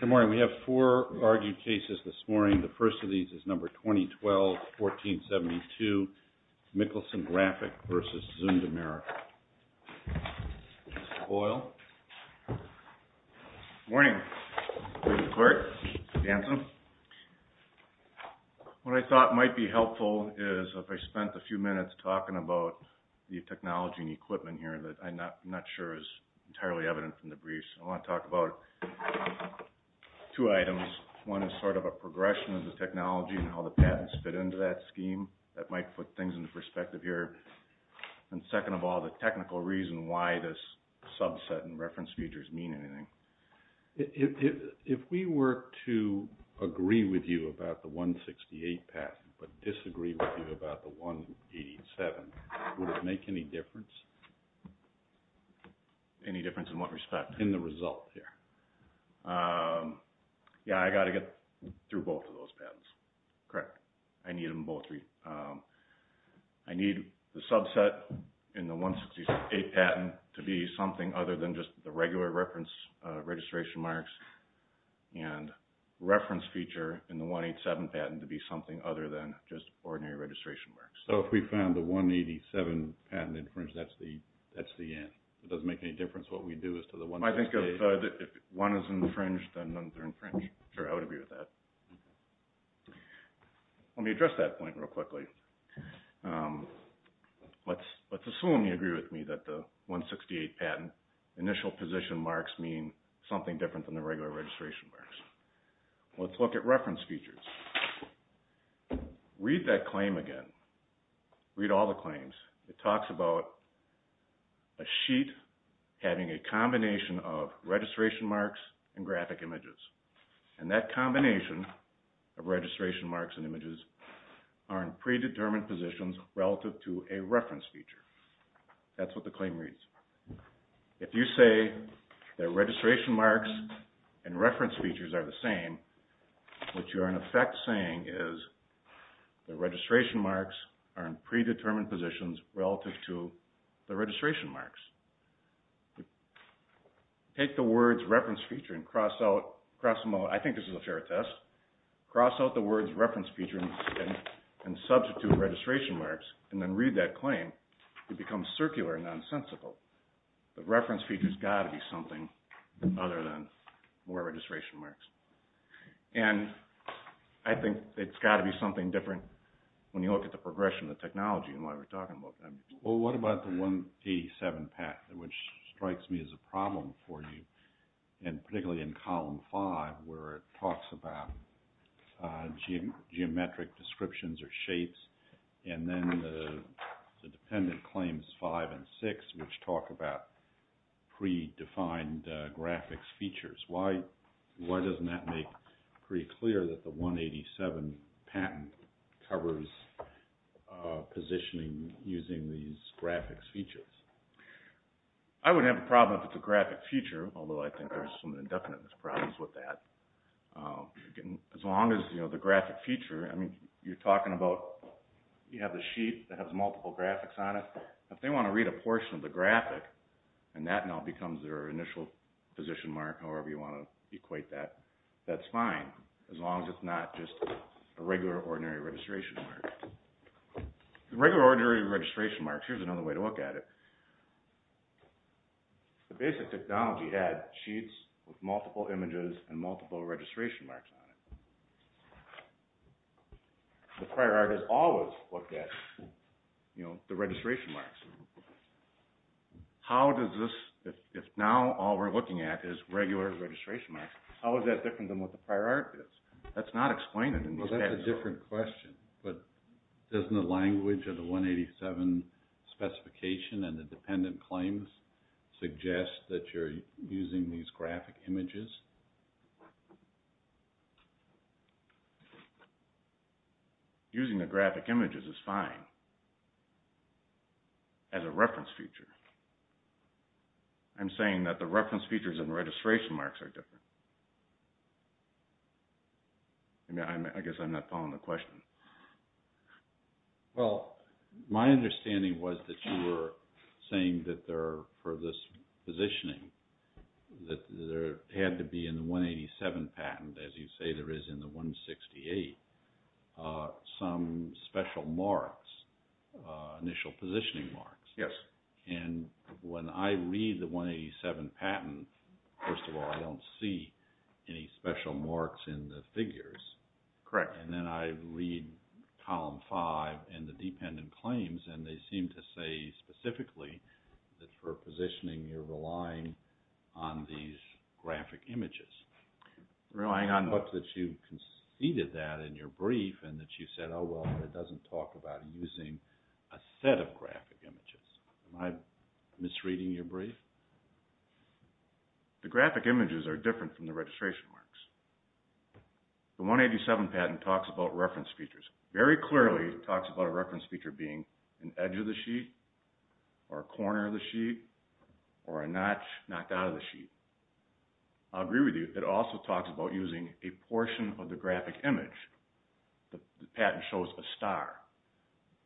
Good morning. We have four argued cases this morning. The first of these is number 2012-1472, Mikkelsen Graphic v. Zund America. Mr. Boyle. Good morning, Mr. Clerk, Mr. Danson. What I thought might be helpful is if I spent a few minutes talking about the technology and equipment here that I'm not sure is entirely evident from the briefs. I want to talk about two items. One is sort of a progression of the technology and how the patents fit into that scheme. That might put things into perspective here. And second of all, the technical reason why this subset and reference features mean anything. If we were to agree with you about the 168 patent but disagree with you about the 187, would it make any difference? Any difference in what respect? In the result here. Yeah, I got to get through both of those patents. Correct. I need the subset in the 168 patent to be something other than just the regular registration marks and reference feature in the 187 patent to be something other than just ordinary registration marks. So if we found the 187 patent infringed, that's the end? It doesn't make any difference what we do as to the 168? I think if one is infringed, then they're infringed. Sure, I would agree with that. Let me address that point real quickly. Let's assume you agree with me that the 168 patent initial position marks mean something different than the regular registration marks. Let's look at reference features. Read that claim again. Read all the claims. It talks about a sheet having a combination of registration marks and graphic images, and that combination of registration marks and images are in predetermined positions relative to a reference feature. That's what the claim reads. If you say that registration marks and reference features are the same, what you are in effect saying is the registration marks are in predetermined positions relative to the registration marks. Take the words reference feature and cross them out. I think this is a fair test. Cross out the words reference feature and substitute registration marks and then read that claim. It becomes circular and nonsensical. The reference feature has got to be something other than where registration marks. I think it's got to be something different when you look at the progression of the technology and why we're talking about that. What about the 187 patent, which strikes me as a problem for you, and particularly in column five where it talks about geometric descriptions or shapes, and then the dependent claims five and six, which talk about predefined graphics features. Why doesn't that make pretty clear that the 187 patent covers positioning using these graphics features? I wouldn't have a problem if it's a graphic feature, although I think there's some indefinite problems with that. As long as the graphic feature, you're talking about you have the sheet that has multiple graphics on it. If they want to read a portion of the graphic and that now becomes their initial position mark, however you want to equate that, that's fine as long as it's not just a regular ordinary registration mark. Regular ordinary registration marks, here's another way to look at it. The basic technology had sheets with multiple images and multiple registration marks on it. The prior art has always looked at the registration marks. How does this, if now all we're looking at is regular registration marks, how is that different than what the prior art is? That's a good question, but doesn't the language of the 187 specification and the dependent claims suggest that you're using these graphic images? Using the graphic images is fine as a reference feature. I'm saying that the reference features and registration marks are different. I guess I'm not following the question. Well, my understanding was that you were saying that for this positioning, that there had to be in the 187 patent, as you say there is in the 168, some special marks, initial positioning marks. Yes. And when I read the 187 patent, first of all, I don't see any special marks in the figures. Correct. And then I read column five and the dependent claims and they seem to say specifically that for positioning you're relying on these graphic images. Relying on what? That you conceded that in your brief and that you said, well, it doesn't talk about using a set of graphic images. Am I misreading your brief? The graphic images are different from the registration marks. The 187 patent talks about reference features. Very clearly it talks about a reference feature being an edge of the sheet or a corner of the sheet or a notch knocked out of the sheet. I agree with you. It also talks about using a portion of the graphic image. The patent shows a star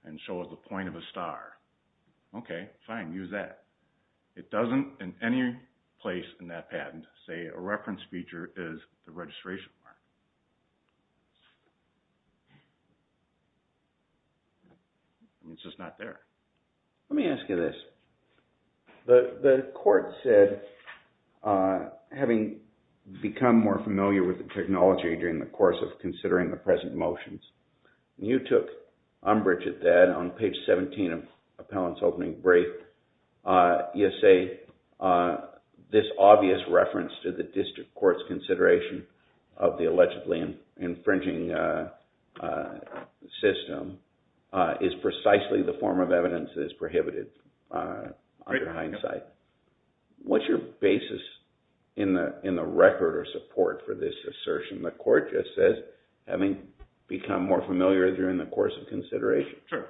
and shows the point of a star. Okay, fine. Use that. It doesn't in any place in that patent say a reference feature is the registration mark. It's just not there. Let me ask you this. The court said having become more familiar with the technology during the course of considering the present motions, you took umbrage at that on page 17 of Appellant's opening brief. You say this obvious reference to the district court's consideration of the allegedly infringing system is precisely the form of evidence that is prohibited under hindsight. What's your basis in the record or support for this assertion that the court just says having become more familiar during the course of consideration? Sure.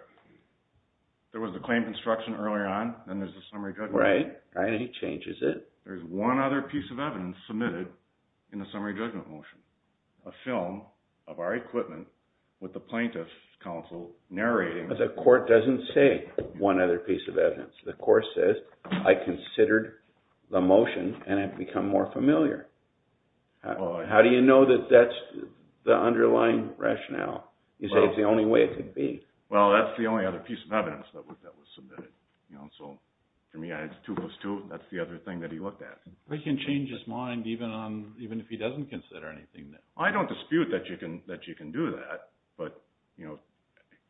There was a claim construction early on and there's a summary judgment. Right. And he changes it. There's one other piece of evidence submitted in the summary judgment motion. A film of our equipment with the plaintiff's counsel narrating. The court doesn't say one other piece of evidence. The court says I considered the motion and have become more familiar. How do you know that that's the underlying rationale? You say it's the only way it could be. Well, that's the only other piece of evidence that was submitted. So, to me, it's two plus two. That's the other thing that he looked at. He can change his mind even if he doesn't consider anything. I don't dispute that you can do that, but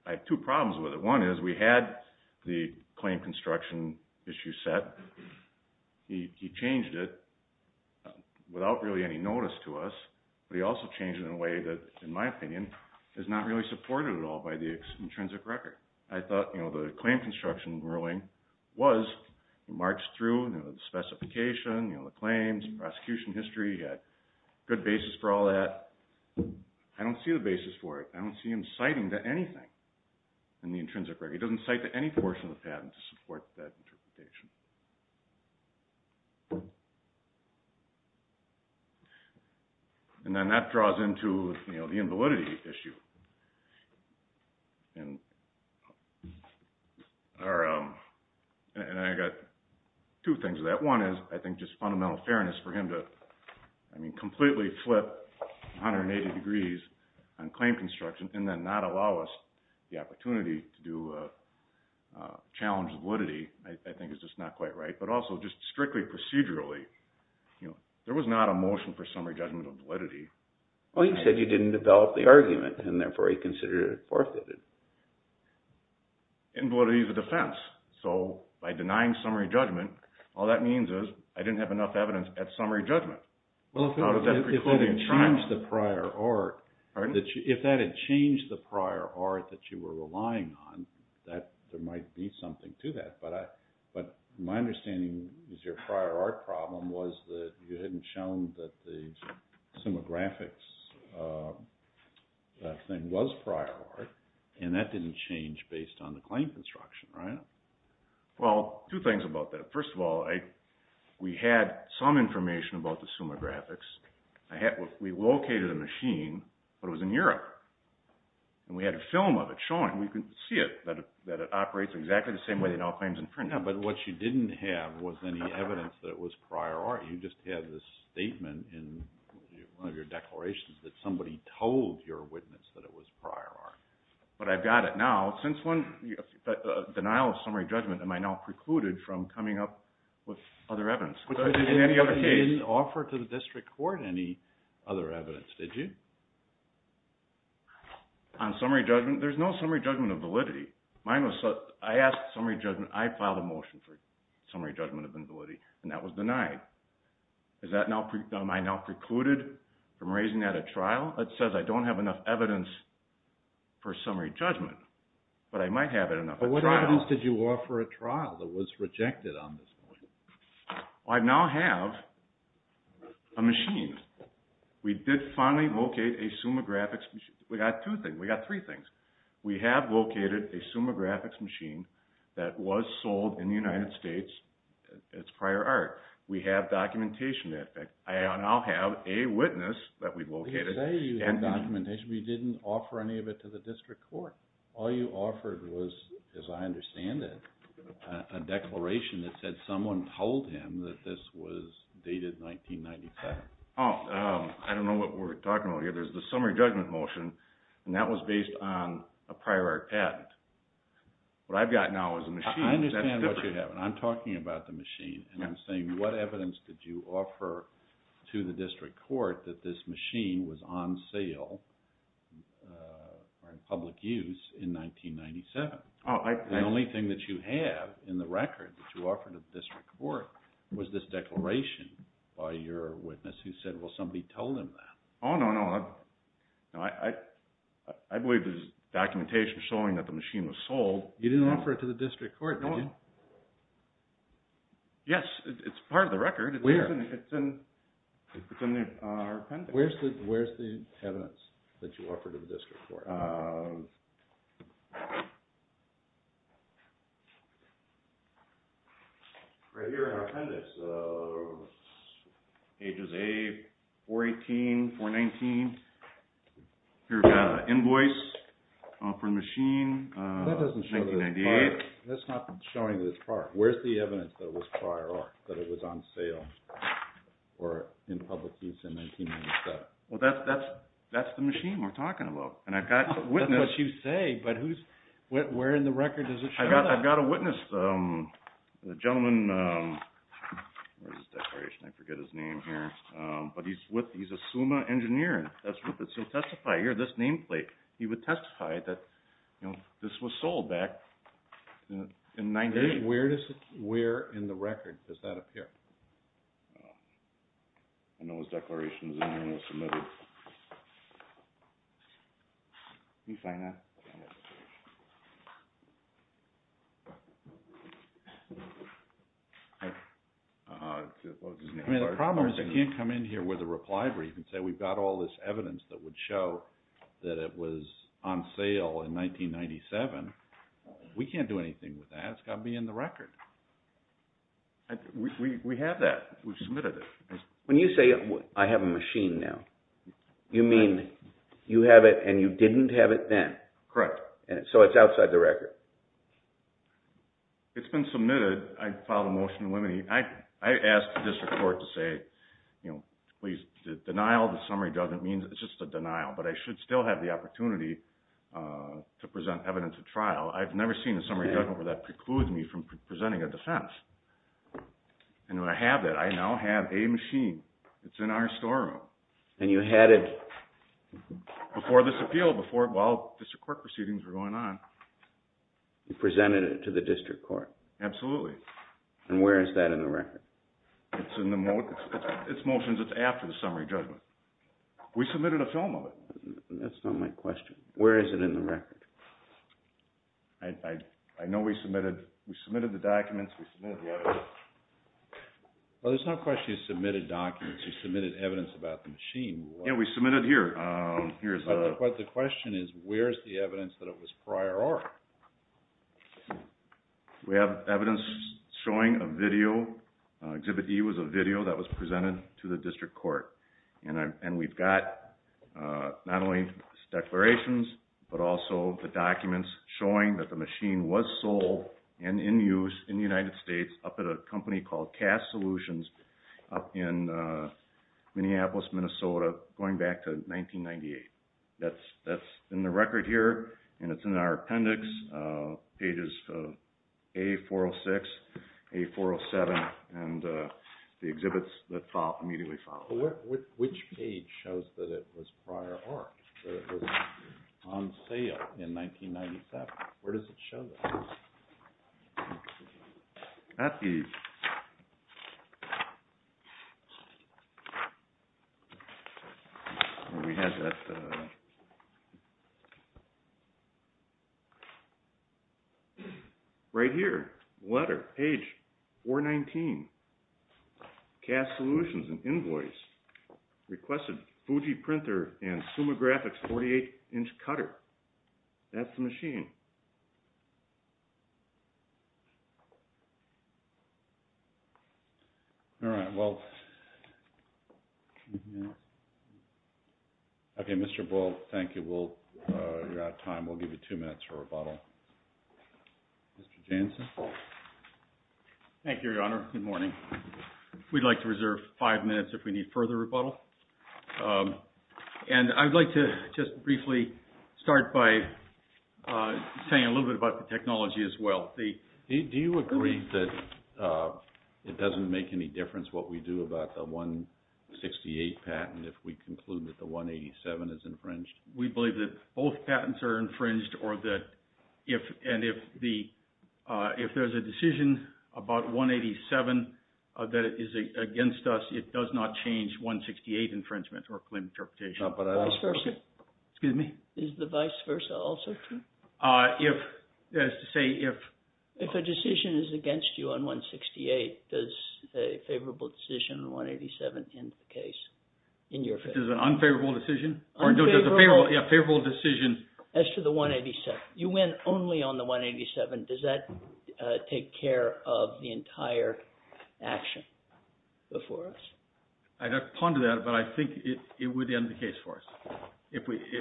I have two problems with it. One is we had the claim construction issue set. He changed it. Without really any notice to us. But he also changed it in a way that, in my opinion, is not really supported at all by the intrinsic record. I thought the claim construction ruling was, he marched through the specification, the claims, prosecution history. He had good basis for all that. I don't see the basis for it. I don't see him citing to anything in the intrinsic record. He doesn't cite to any portion of the patent to support that interpretation. And then that draws into the invalidity issue. And I got two things with that. One is, I think, just fundamental fairness for him to completely flip 180 degrees on claim construction and then not allow us the opportunity to do a challenge of validity, I think is just not quite right. But also, just strictly procedurally, there was not a motion for summary judgment of validity. Well, he said you didn't develop the argument, and therefore he considered it forfeited. Invalidity is a defense. So by denying summary judgment, all that means is I didn't have enough evidence at summary judgment. Well, if that had changed the prior art that you were relying on, there might be something to that. But my understanding is your prior art problem was that you hadn't shown that the Summa Graphics thing was prior art, and that didn't change based on the claim construction, right? Well, two things about that. First of all, we had some information about the Summa Graphics. We located a machine, but it was in Europe. And we had a film of it showing. And we could see it, that it operates exactly the same way it now claims in print. Yeah, but what you didn't have was any evidence that it was prior art. You just had this statement in one of your declarations that somebody told your witness that it was prior art. But I've got it now. Since denial of summary judgment, am I now precluded from coming up with other evidence? But you didn't offer to the district court any other evidence, did you? On summary judgment, there's no summary judgment of validity. I asked summary judgment. I filed a motion for summary judgment of invalidity, and that was denied. Am I now precluded from raising that at trial? That says I don't have enough evidence for summary judgment, but I might have it enough at trial. But what evidence did you offer at trial that was rejected on this point? I now have a machine. We did finally locate a Summa Graphics machine. We got two things. We got three things. We have located a Summa Graphics machine that was sold in the United States as prior art. We have documentation. I now have a witness that we've located. You say you have documentation, but you didn't offer any of it to the district court. All you offered was, as I understand it, a declaration that said someone told him that this was dated 1997. I don't know what we're talking about here. There's the summary judgment motion, and that was based on a prior art patent. What I've got now is a machine. I understand what you have, and I'm talking about the machine, and I'm saying what evidence did you offer to the district court that this machine was on sale or in public use in 1997? The only thing that you have in the record that you offered to the district court was this declaration by your witness who said, well, somebody told him that. Oh, no, no. I believe there's documentation showing that the machine was sold. You didn't offer it to the district court, did you? Yes, it's part of the record. Where? It's in our appendix. Where's the evidence that you offered to the district court? Here. Right here in our appendix, ages A, 418, 419. Here we've got an invoice for the machine, 1998. That's not showing this prior. Where's the evidence that it was prior art, that it was on sale or in public use in 1997? Well, that's the machine we're talking about, and I've got a witness. That's what you say, but where in the record does it show that? I've got a witness, a gentleman. Where's his declaration? I forget his name here, but he's a SUMA engineer. He'll testify. Here, this nameplate. He would testify that this was sold back in 1998. Where in the record does that appear? I know his declaration is in there and was submitted. Let me find that. I mean, the problem is I can't come in here with a reply where you can say we've got all this evidence that would show that it was on sale in 1997. We can't do anything with that. It's got to be in the record. We have that. We've submitted it. When you say I have a machine now, you mean you have it and you didn't have it then? Correct. So it's outside the record? It's been submitted. I filed a motion to eliminate it. I asked the district court to say, please, the denial of the summary judgment means it's just a denial, but I should still have the opportunity to present evidence at trial. I've never seen a summary judgment where that precludes me from presenting a defense. And when I have that, I now have a machine. It's in our storeroom. And you had it? Before this appeal, while district court proceedings were going on. You presented it to the district court? Absolutely. And where is that in the record? It's in the motions. It's after the summary judgment. We submitted a film of it. That's not my question. Where is it in the record? I know we submitted the documents. We submitted the evidence. Well, there's no question you submitted documents. You submitted evidence about the machine. Yeah, we submitted here. But the question is, where's the evidence that it was prior art? We have evidence showing a video. Exhibit E was a video that was presented to the district court. And we've got not only declarations, but also the documents showing that the machine was sold and in use in the United States up at a company called Cast Solutions up in Minneapolis, Minnesota, going back to 1998. That's in the record here, and it's in our appendix, pages A406, A407, and the exhibits that immediately follow. Which page shows that it was prior art, that it was on sale in 1997? Where does it show that? At ease. Right here, letter, page 419, Cast Solutions, an invoice, requested Fuji printer and Summa Graphics 48-inch cutter. That's the machine. All right, well, okay, Mr. Bull, thank you. You're out of time. We'll give you two minutes for rebuttal. Mr. Jansen. Thank you, Your Honor. Good morning. We'd like to reserve five minutes if we need further rebuttal. And I'd like to just briefly start by saying a little bit about the technology as well. Do you agree that it doesn't make any difference what we do about the 168 patent if we conclude that the 187 is infringed? We believe that both patents are infringed, and if there's a decision about 187 that is against us, it does not change 168 infringement or claim interpretation. Excuse me? Is the vice versa also true? If, that is to say, if. If a decision is against you on 168, does a favorable decision, 187, end the case in your favor? Is it an unfavorable decision? Unfavorable. Yeah, a favorable decision. As to the 187. You went only on the 187. Does that take care of the entire action before us? I'd have to ponder that, but I think it would end the case for us.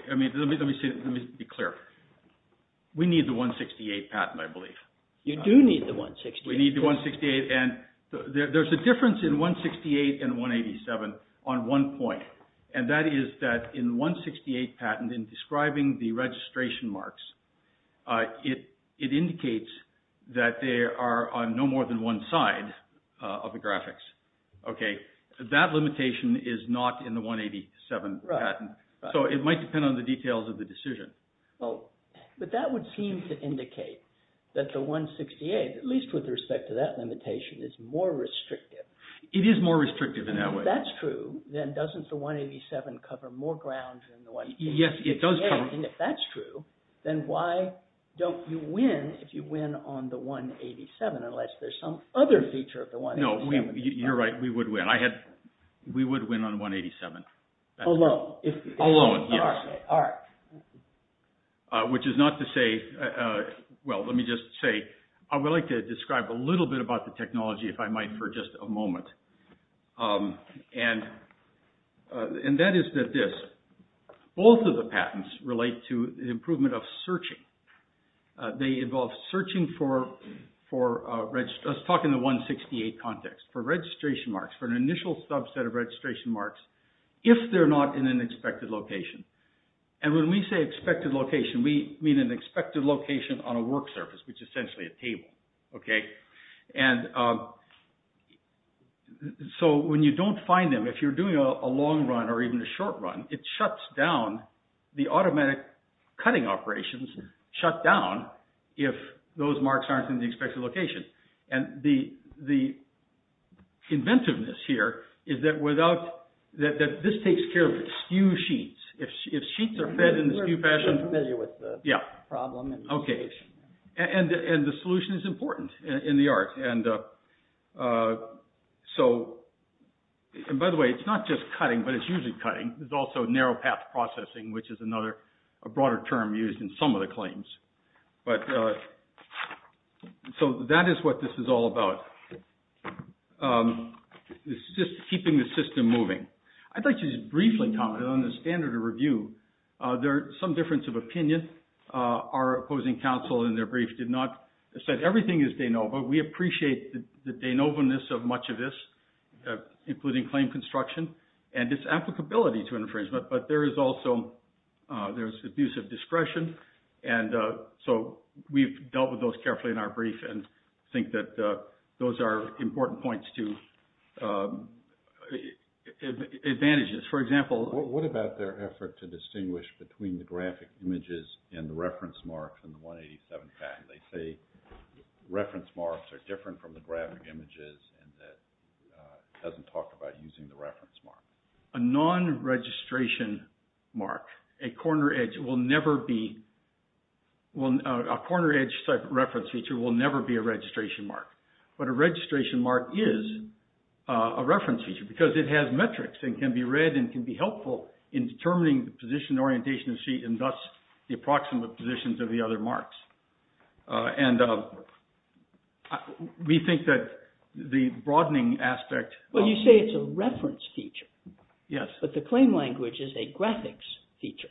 I mean, let me be clear. We need the 168 patent, I believe. You do need the 168. We need the 168, and there's a difference in 168 and 187 on one point, and that is that in the 168 patent, in describing the registration marks, it indicates that they are on no more than one side of the graphics. Okay? That limitation is not in the 187 patent. Right. So it might depend on the details of the decision. But that would seem to indicate that the 168, at least with respect to that limitation, is more restrictive. It is more restrictive in that way. If that's true, then doesn't the 187 cover more ground than the 168? Yes, it does cover. If that's true, then why don't you win if you win on the 187, unless there's some other feature of the 187? No, you're right. We would win. We would win on the 187. Alone? Alone, yes. Okay, all right. Which is not to say, well, let me just say, I would like to describe a little bit about the technology, if I might, for just a moment. And that is that this, both of the patents relate to the improvement of searching. They involve searching for, let's talk in the 168 context, for registration marks, for an initial subset of registration marks, if they're not in an expected location. And when we say expected location, we mean an expected location on a work surface, which is essentially a table. Okay? And so when you don't find them, if you're doing a long run or even a short run, it shuts down the automatic cutting operations, shut down if those marks aren't in the expected location. And the inventiveness here is that without, that this takes care of skew sheets. If sheets are fed in the skew fashion. We're familiar with the problem. Okay, and the solution is important. In the art. And so, and by the way, it's not just cutting, but it's usually cutting. There's also narrow path processing, which is another, a broader term used in some of the claims. But, so that is what this is all about. It's just keeping the system moving. I'd like to just briefly comment on the standard of review. There's some difference of opinion. Our opposing counsel in their brief did not, said everything is de novo. We appreciate the de novo-ness of much of this, including claim construction, and its applicability to infringement. But there is also, there's abusive discretion. And so we've dealt with those carefully in our brief and think that those are important points to advantages. For example. What about their effort to distinguish between the graphic images and the reference marks in the 187 patent? They say reference marks are different from the graphic images and that it doesn't talk about using the reference mark. A non-registration mark, a corner edge will never be, a corner edge reference feature will never be a registration mark. But a registration mark is a reference feature because it has metrics and can be read and can be helpful in determining the position, orientation, and thus the approximate positions of the other marks. And we think that the broadening aspect. Well, you say it's a reference feature. Yes. But the claim language is a graphics feature.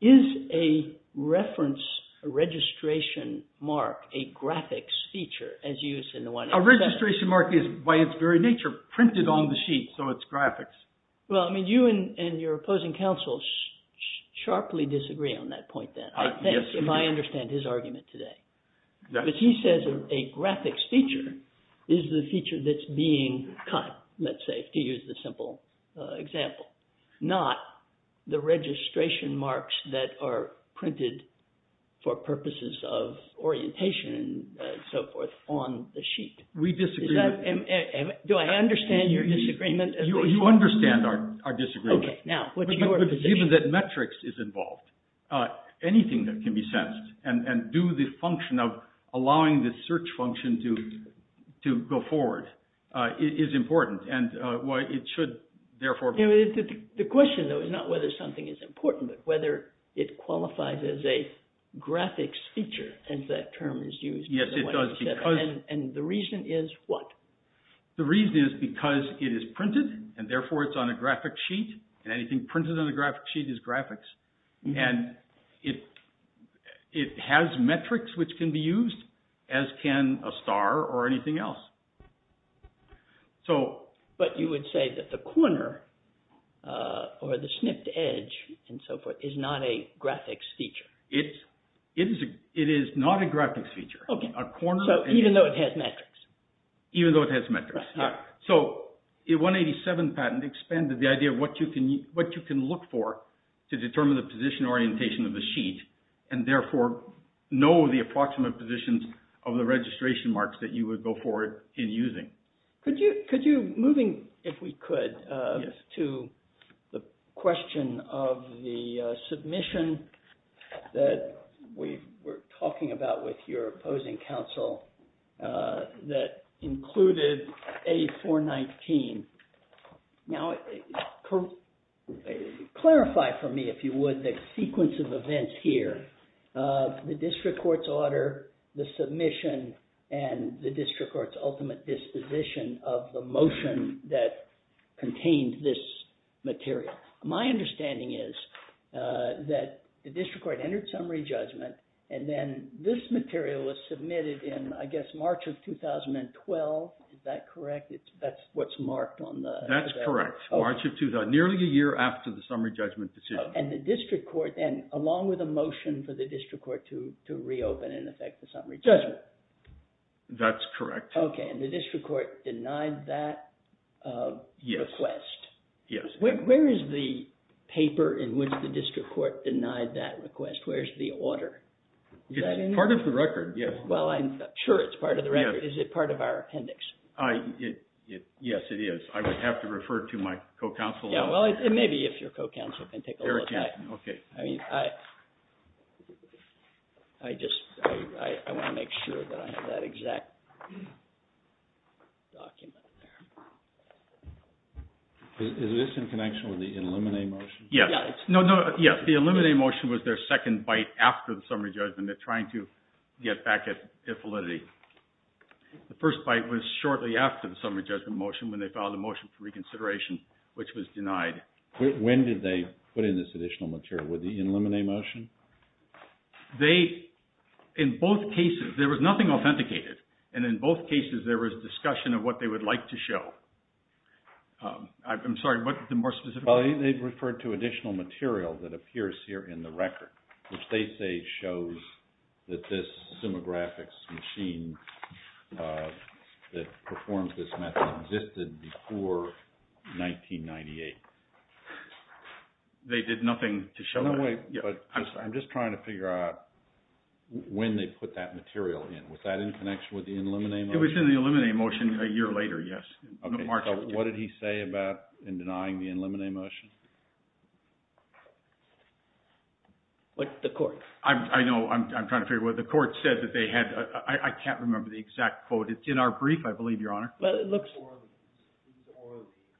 Is a reference, a registration mark, a graphics feature as used in the 187? A registration mark is by its very nature printed on the sheet, so it's graphics. Well, I mean, you and your opposing counsel sharply disagree on that point then, if I understand his argument today. Yes. But he says a graphics feature is the feature that's being cut, let's say, to use the simple example, not the registration marks that are printed for purposes of orientation and so forth on the sheet. We disagree. Do I understand your disagreement? You understand our disagreement. Okay, now, what's your position? Given that metrics is involved, anything that can be sensed and do the function of allowing the search function to go forward is important and it should therefore be. The question, though, is not whether something is important but whether it qualifies as a graphics feature, as that term is used in the 187. Yes, it does. And the reason is what? The reason is because it is printed and therefore it's on a graphic sheet and anything printed on a graphic sheet is graphics. And it has metrics which can be used, as can a star or anything else. But you would say that the corner or the snipped edge and so forth is not a graphics feature. It is not a graphics feature. So even though it has metrics? Even though it has metrics, yes. So the 187 patent expanded the idea of what you can look for to determine the position orientation of the sheet and therefore know the approximate positions of the registration marks that you would go forward in using. Could you, moving, if we could, to the question of the submission that we were talking about with your opposing counsel that included A419. Now, clarify for me, if you would, the sequence of events here, the district court's order, the submission, and the district court's ultimate disposition of the motion that contained this material. My understanding is that the district court entered summary judgment and then this material was submitted in, I guess, March of 2012. Is that correct? That's what's marked on the... That's correct. March of 2012, nearly a year after the summary judgment decision. And the district court, and along with a motion for the district court to reopen and affect the summary judgment. That's correct. Okay. And the district court denied that request. Yes. Where is the paper in which the district court denied that request? Where's the order? Part of the record, yes. Well, I'm sure it's part of the record. Is it part of our appendix? Yes, it is. I would have to refer to my co-counsel. Yeah, well, maybe if your co-counsel can take a look at it. Okay. I mean, I just want to make sure that I have that exact document there. Is this in connection with the Illuminate motion? Yes. The Illuminate motion was their second bite after the summary judgment. They're trying to get back at the validity. The first bite was shortly after the summary judgment motion when they filed a motion for reconsideration, which was denied. When did they put in this additional material? With the Illuminate motion? They, in both cases, there was nothing authenticated. And in both cases, there was discussion of what they would like to show. I'm sorry, what's the more specific? Well, they referred to additional material that appears here in the record, which they say shows that this demographics machine that performs this method existed before 1998. They did nothing to show that? No, wait. I'm sorry. I'm just trying to figure out when they put that material in. Was that in connection with the Illuminate motion? It was in the Illuminate motion a year later, yes. Okay. So what did he say about denying the Illuminate motion? The court. I know. I'm trying to figure out what the court said that they had. I can't remember the exact quote. It's in our brief, I believe, Your Honor. Well, it looks…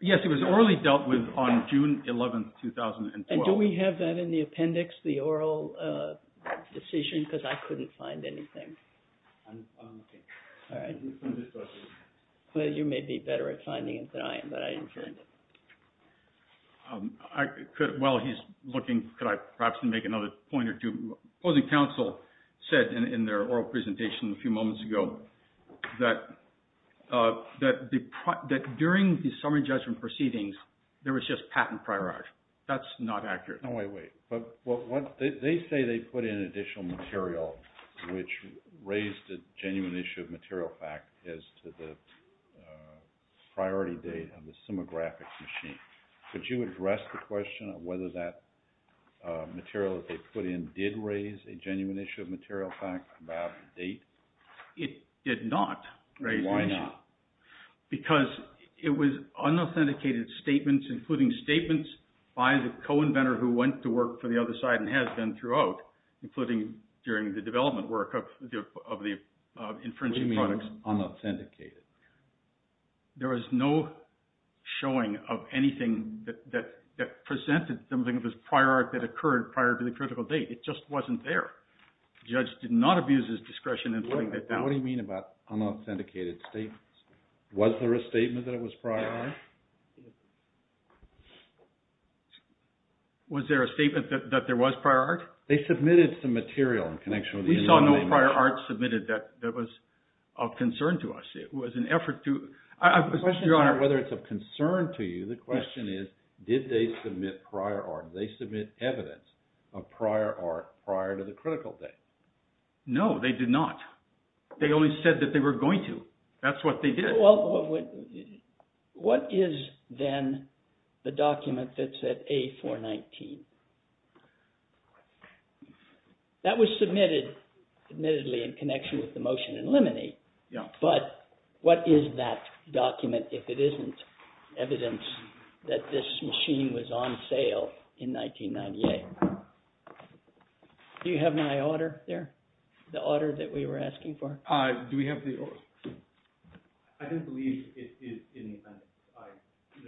Yes, it was orally dealt with on June 11, 2012. And do we have that in the appendix, the oral decision? Because I couldn't find anything. Okay. All right. You may be better at finding it than I am, but I inferred it. While he's looking, could I perhaps make another point or two? Opposing counsel said in their oral presentation a few moments ago that during the summary judgment proceedings, there was just patent prior art. That's not accurate. No, wait, wait. They say they put in additional material which raised a genuine issue of material fact as to the priority date of the Simographics machine. Could you address the question of whether that material that they put in did raise a genuine issue of material fact about the date? It did not raise the issue. Why not? Because it was unauthenticated statements, including statements by the co-inventor who went to work for the other side and has been throughout, including during the development work of the infringing products. What do you mean unauthenticated? There was no showing of anything that presented something of this prior art that occurred prior to the critical date. It just wasn't there. The judge did not abuse his discretion in putting that down. What do you mean about unauthenticated statements? Was there a statement that it was prior art? Was there a statement that there was prior art? They submitted some material in connection with the Indian. We saw no prior art submitted that was of concern to us. It was an effort to— The question is not whether it's of concern to you. The question is, did they submit prior art? Did they submit evidence of prior art prior to the critical date? No, they did not. They only said that they were going to. That's what they did. What is, then, the document that said A-419? That was submitted, admittedly, in connection with the motion in limine. But what is that document if it isn't evidence that this machine was on sale in 1998? Do you have my order there, the order that we were asking for? Do we have the order? I don't believe it is in the appendix.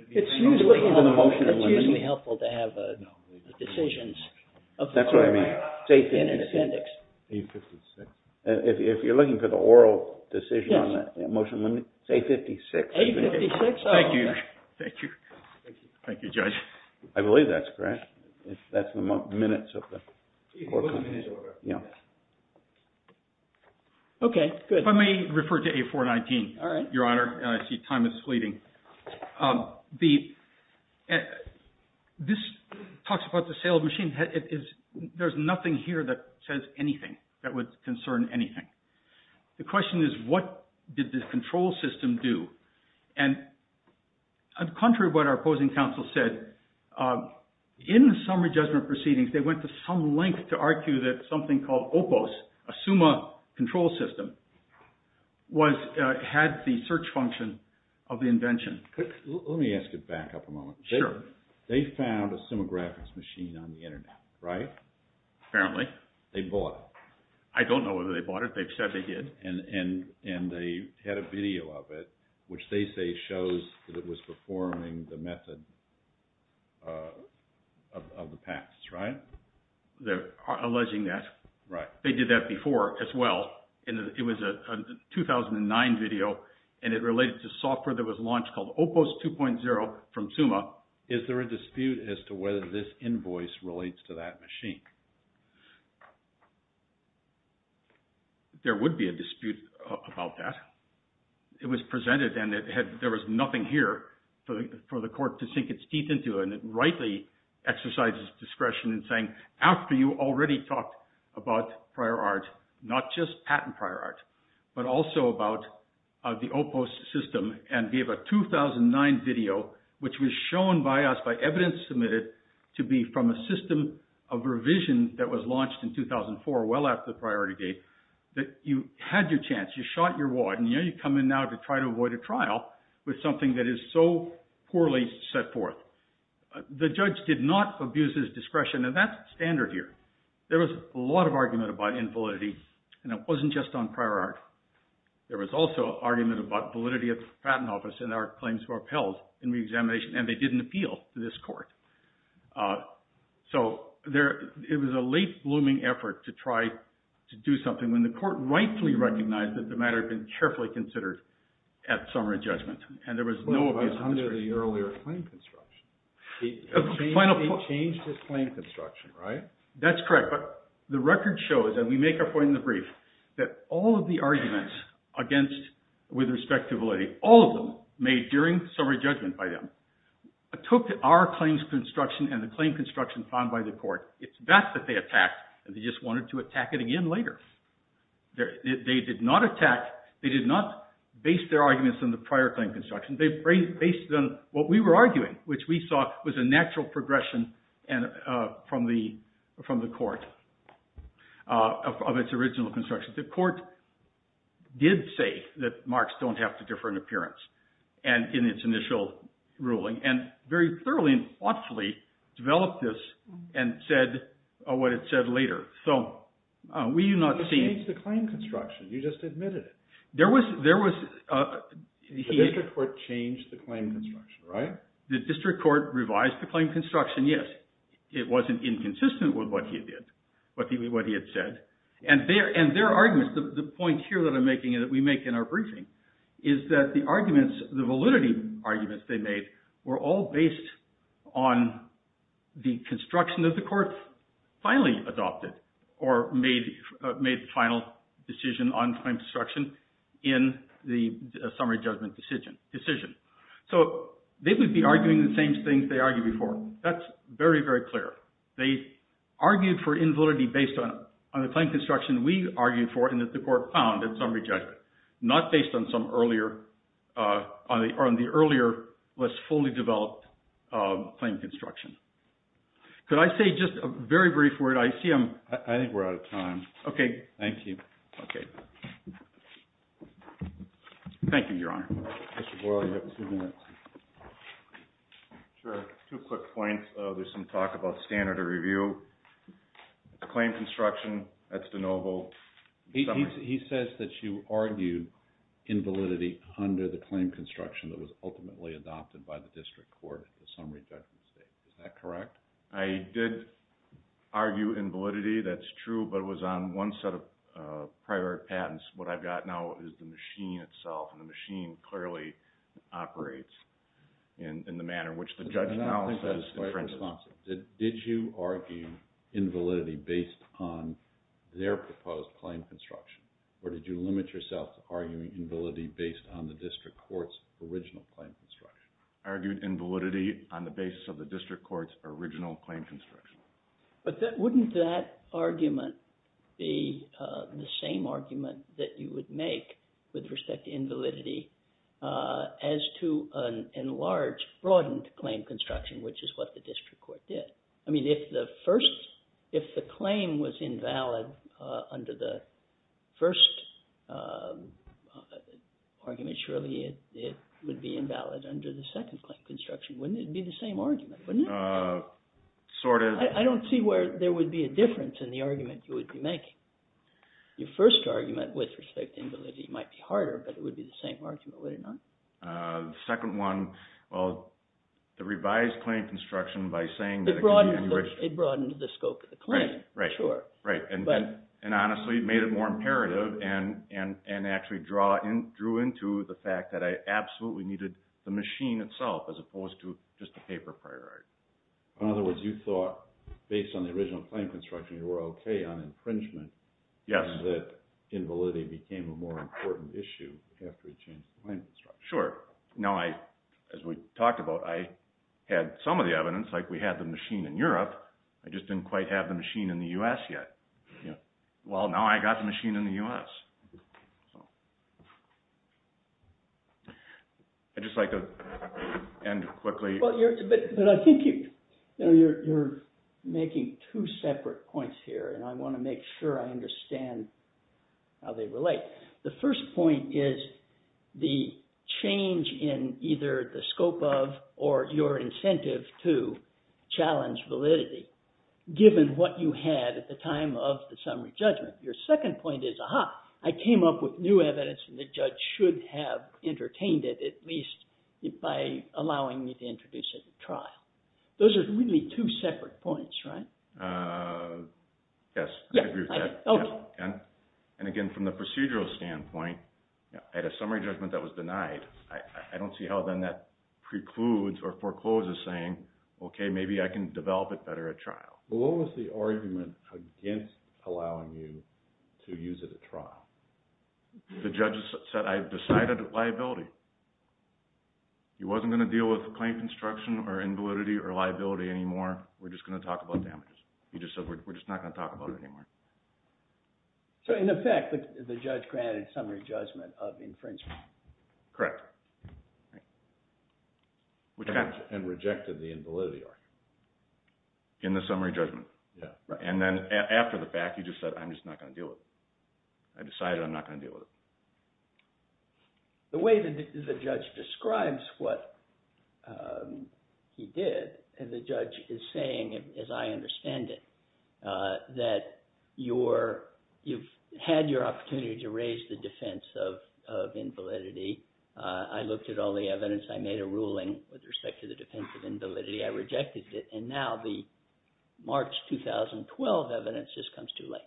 It's usually helpful to have decisions in an appendix. A-56. If you're looking for the oral decision on the motion in limine, say A-56. A-56? Thank you. Thank you, Judge. I believe that's correct. That's the minutes of the court document. Okay, good. If I may refer to A-419, Your Honor. I see time is fleeting. This talks about the sale of the machine. There's nothing here that says anything that would concern anything. The question is, what did the control system do? And contrary to what our opposing counsel said, in the summary judgment proceedings, they went to some length to argue that something called OPOS, a SUMA control system, had the search function of the invention. Let me ask you back up a moment. Sure. They found a SUMA graphics machine on the internet, right? Apparently. They bought it. I don't know whether they bought it. They've said they did. And they had a video of it, which they say shows that it was performing the method of the PACS, right? They're alleging that. Right. They did that before as well, and it was a 2009 video, and it related to software that was launched called OPOS 2.0 from SUMA. Is there a dispute as to whether this invoice relates to that machine? There would be a dispute about that. It was presented, and there was nothing here for the court to sink its teeth into, and it rightly exercises discretion in saying, after you already talked about prior art, not just patent prior art, but also about the OPOS system and gave a 2009 video, which was shown by us by evidence submitted to be from a system of revision that was launched in 2004, well after the priority date, that you had your chance. You shot your wad. You come in now to try to avoid a trial with something that is so poorly set forth. The judge did not abuse his discretion, and that's standard here. There was a lot of argument about invalidity, and it wasn't just on prior art. There was also argument about validity of the patent office and our claims were upheld in reexamination, and they didn't appeal to this court. So it was a late-blooming effort to try to do something when the court rightly recognized that the matter had been carefully considered at summary judgment, and there was no abuse of discretion. It was under the earlier claim construction. They changed the claim construction, right? That's correct, but the record shows, and we make our point in the brief, that all of the arguments against with respect to validity, all of them made during summary judgment by them, took our claims construction and the claim construction found by the court. It's best that they attacked, and they just wanted to attack it again later. They did not attack, they did not base their arguments on the prior claim construction. They based it on what we were arguing, which we saw was a natural progression from the court, of its original construction. The court did say that marks don't have to differ in appearance in its initial ruling, and very thoroughly and thoughtfully developed this and said what it said later. So we do not see... They changed the claim construction, you just admitted it. There was... The district court changed the claim construction, right? The district court revised the claim construction, yes. It wasn't inconsistent with what he did, what he had said, and their arguments, the point here that I'm making and that we make in our briefing, is that the arguments, the validity arguments they made, were all based on the construction that the court finally adopted or made the final decision on claim construction in the summary judgment decision. So they would be arguing the same things they argued before. That's very, very clear. They argued for invalidity based on the claim construction we argued for and that the court found in summary judgment, not based on the earlier less fully developed claim construction. Could I say just a very brief word? I see I'm... I think we're out of time. Okay. Thank you. Okay. Thank you, Your Honor. Mr. Boyle, you have two minutes. Sure. Two quick points. There's some talk about standard of review. The claim construction, that's de novo. He says that you argued invalidity under the claim construction that was ultimately adopted by the district court in the summary judgment stage. Is that correct? I did argue invalidity. That's true, but it was on one set of prior patents. What I've got now is the machine itself, and the machine clearly operates in the manner which the judge now says. Did you argue invalidity based on their proposed claim construction or did you limit yourself to arguing invalidity based on the district court's original claim construction? I argued invalidity on the basis of the district court's original claim construction. But wouldn't that argument be the same argument that you would make with respect to invalidity as to an enlarged, broadened claim construction, which is what the district court did? I mean, if the claim was invalid under the first argument, surely it would be invalid under the second claim construction. Wouldn't it be the same argument? I don't see where there would be a difference in the argument you would be making. Your first argument with respect to invalidity might be harder, but it would be the same argument, would it not? The second one, well, the revised claim construction by saying that… It broadened the scope of the claim, sure. Right, and honestly made it more imperative and actually drew into the fact that I absolutely needed the machine itself as opposed to just the paper priority. In other words, you thought, based on the original claim construction, you were okay on infringement, that invalidity became a more important issue after the claim construction. Sure. Now, as we talked about, I had some of the evidence, like we had the machine in Europe, I just didn't quite have the machine in the U.S. yet. Well, now I've got the machine in the U.S. I'd just like to end quickly. But I think you're making two separate points here, and I want to make sure I understand how they relate. The first point is the change in either the scope of or your incentive to challenge validity, given what you had at the time of the summary judgment. Your second point is, aha, I came up with new evidence and the judge should have entertained it, at least by allowing me to introduce it at trial. Those are really two separate points, right? Yes, I agree with that. And again, from the procedural standpoint, at a summary judgment that was denied, I don't see how then that precludes or forecloses saying, okay, maybe I can develop it better at trial. What was the argument against allowing you to use it at trial? The judge said, I've decided liability. He wasn't going to deal with the claim construction or invalidity or liability anymore, we're just going to talk about damages. He just said, we're just not going to talk about it anymore. So in effect, the judge granted summary judgment of infringement. Correct. And rejected the invalidity argument. In the summary judgment. And then after the fact, he just said, I'm just not going to deal with it. I decided I'm not going to deal with it. The way the judge describes what he did, the judge is saying, as I understand it, that you've had your opportunity to raise the defense of invalidity. I looked at all the evidence. I made a ruling with respect to the defense of invalidity. I rejected it. And now the March 2012 evidence just comes too late.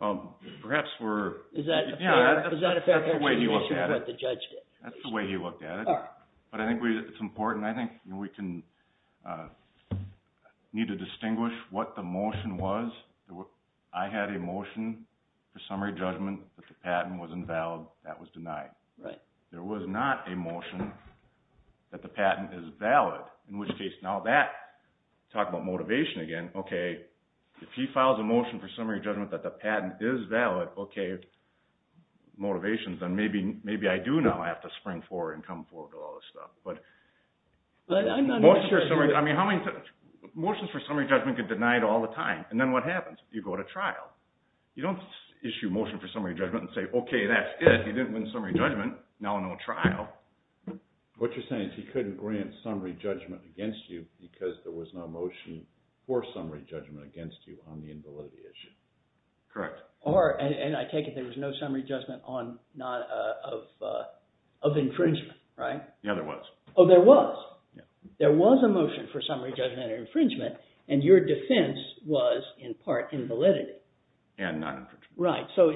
Well, perhaps we're – Is that a fair – Yeah, that's the way he looked at it. That's the way he looked at it. But I think it's important. I think we can – need to distinguish what the motion was. I had a motion for summary judgment, but the patent was invalid. That was denied. Right. There was not a motion that the patent is valid, in which case, now that – talk about motivation again. Okay, if he files a motion for summary judgment that the patent is valid, okay, motivation, then maybe I do now have to spring forward and come forward with all this stuff. But motions for summary – I mean, how many – motions for summary judgment get denied all the time. And then what happens? You go to trial. You don't issue a motion for summary judgment and say, okay, that's it. He didn't win summary judgment, now no trial. What you're saying is he couldn't grant summary judgment against you because there was no motion for summary judgment against you on the invalidity issue. Correct. Or – and I take it there was no summary judgment on – not of infringement, right? Yeah, there was. Oh, there was? Yeah. There was a motion for summary judgment of infringement, and your defense was in part invalidity. And not infringement. Right. So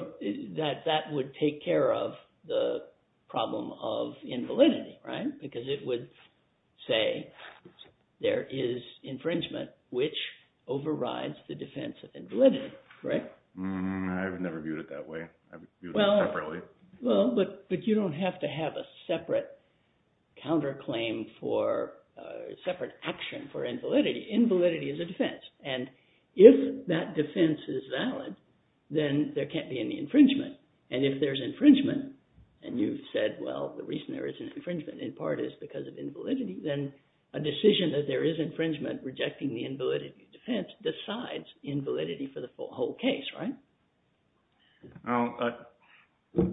that would take care of the problem of invalidity, right? Because it would say there is infringement, which overrides the defense of invalidity, right? I've never viewed it that way. I view it separately. Well, but you don't have to have a separate counterclaim for – separate action for invalidity. Invalidity is a defense. And if that defense is valid, then there can't be any infringement. And if there's infringement and you've said, well, the reason there isn't infringement in part is because of invalidity, then a decision that there is infringement rejecting the invalidity defense decides invalidity for the whole case, right? Well,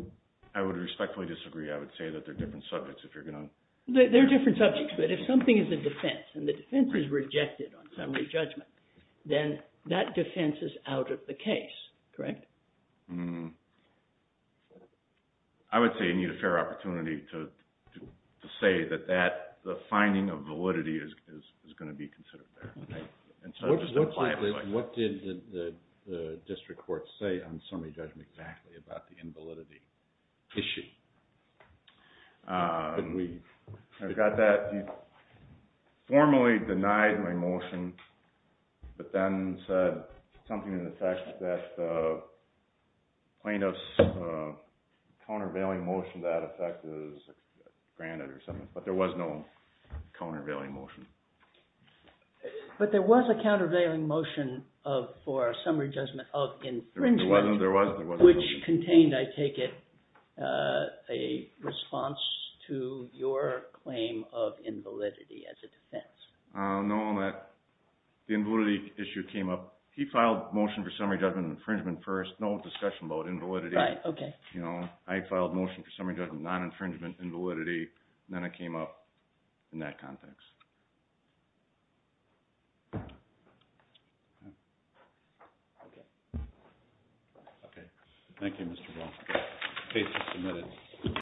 I would respectfully disagree. I would say that they're different subjects if you're going to – They're different subjects, but if something is a defense and the defense is rejected on summary judgment, then that defense is out of the case, correct? I would say you need a fair opportunity to say that the finding of validity is going to be considered there. What did the district court say on summary judgment exactly about the invalidity issue? I've got that. Formally denied my motion, but then said something to the effect that plaintiff's countervailing motion, that effect is granted or something. But there was no countervailing motion. But there was a countervailing motion for summary judgment of infringement. There was. Which contained, I take it, a response to your claim of invalidity as a defense. No, the invalidity issue came up – he filed motion for summary judgment infringement first. No discussion about invalidity. Right, okay. You know, I filed motion for summary judgment of non-infringement invalidity, and then it came up in that context. Okay. Thank you, Mr. Ball. Case is submitted.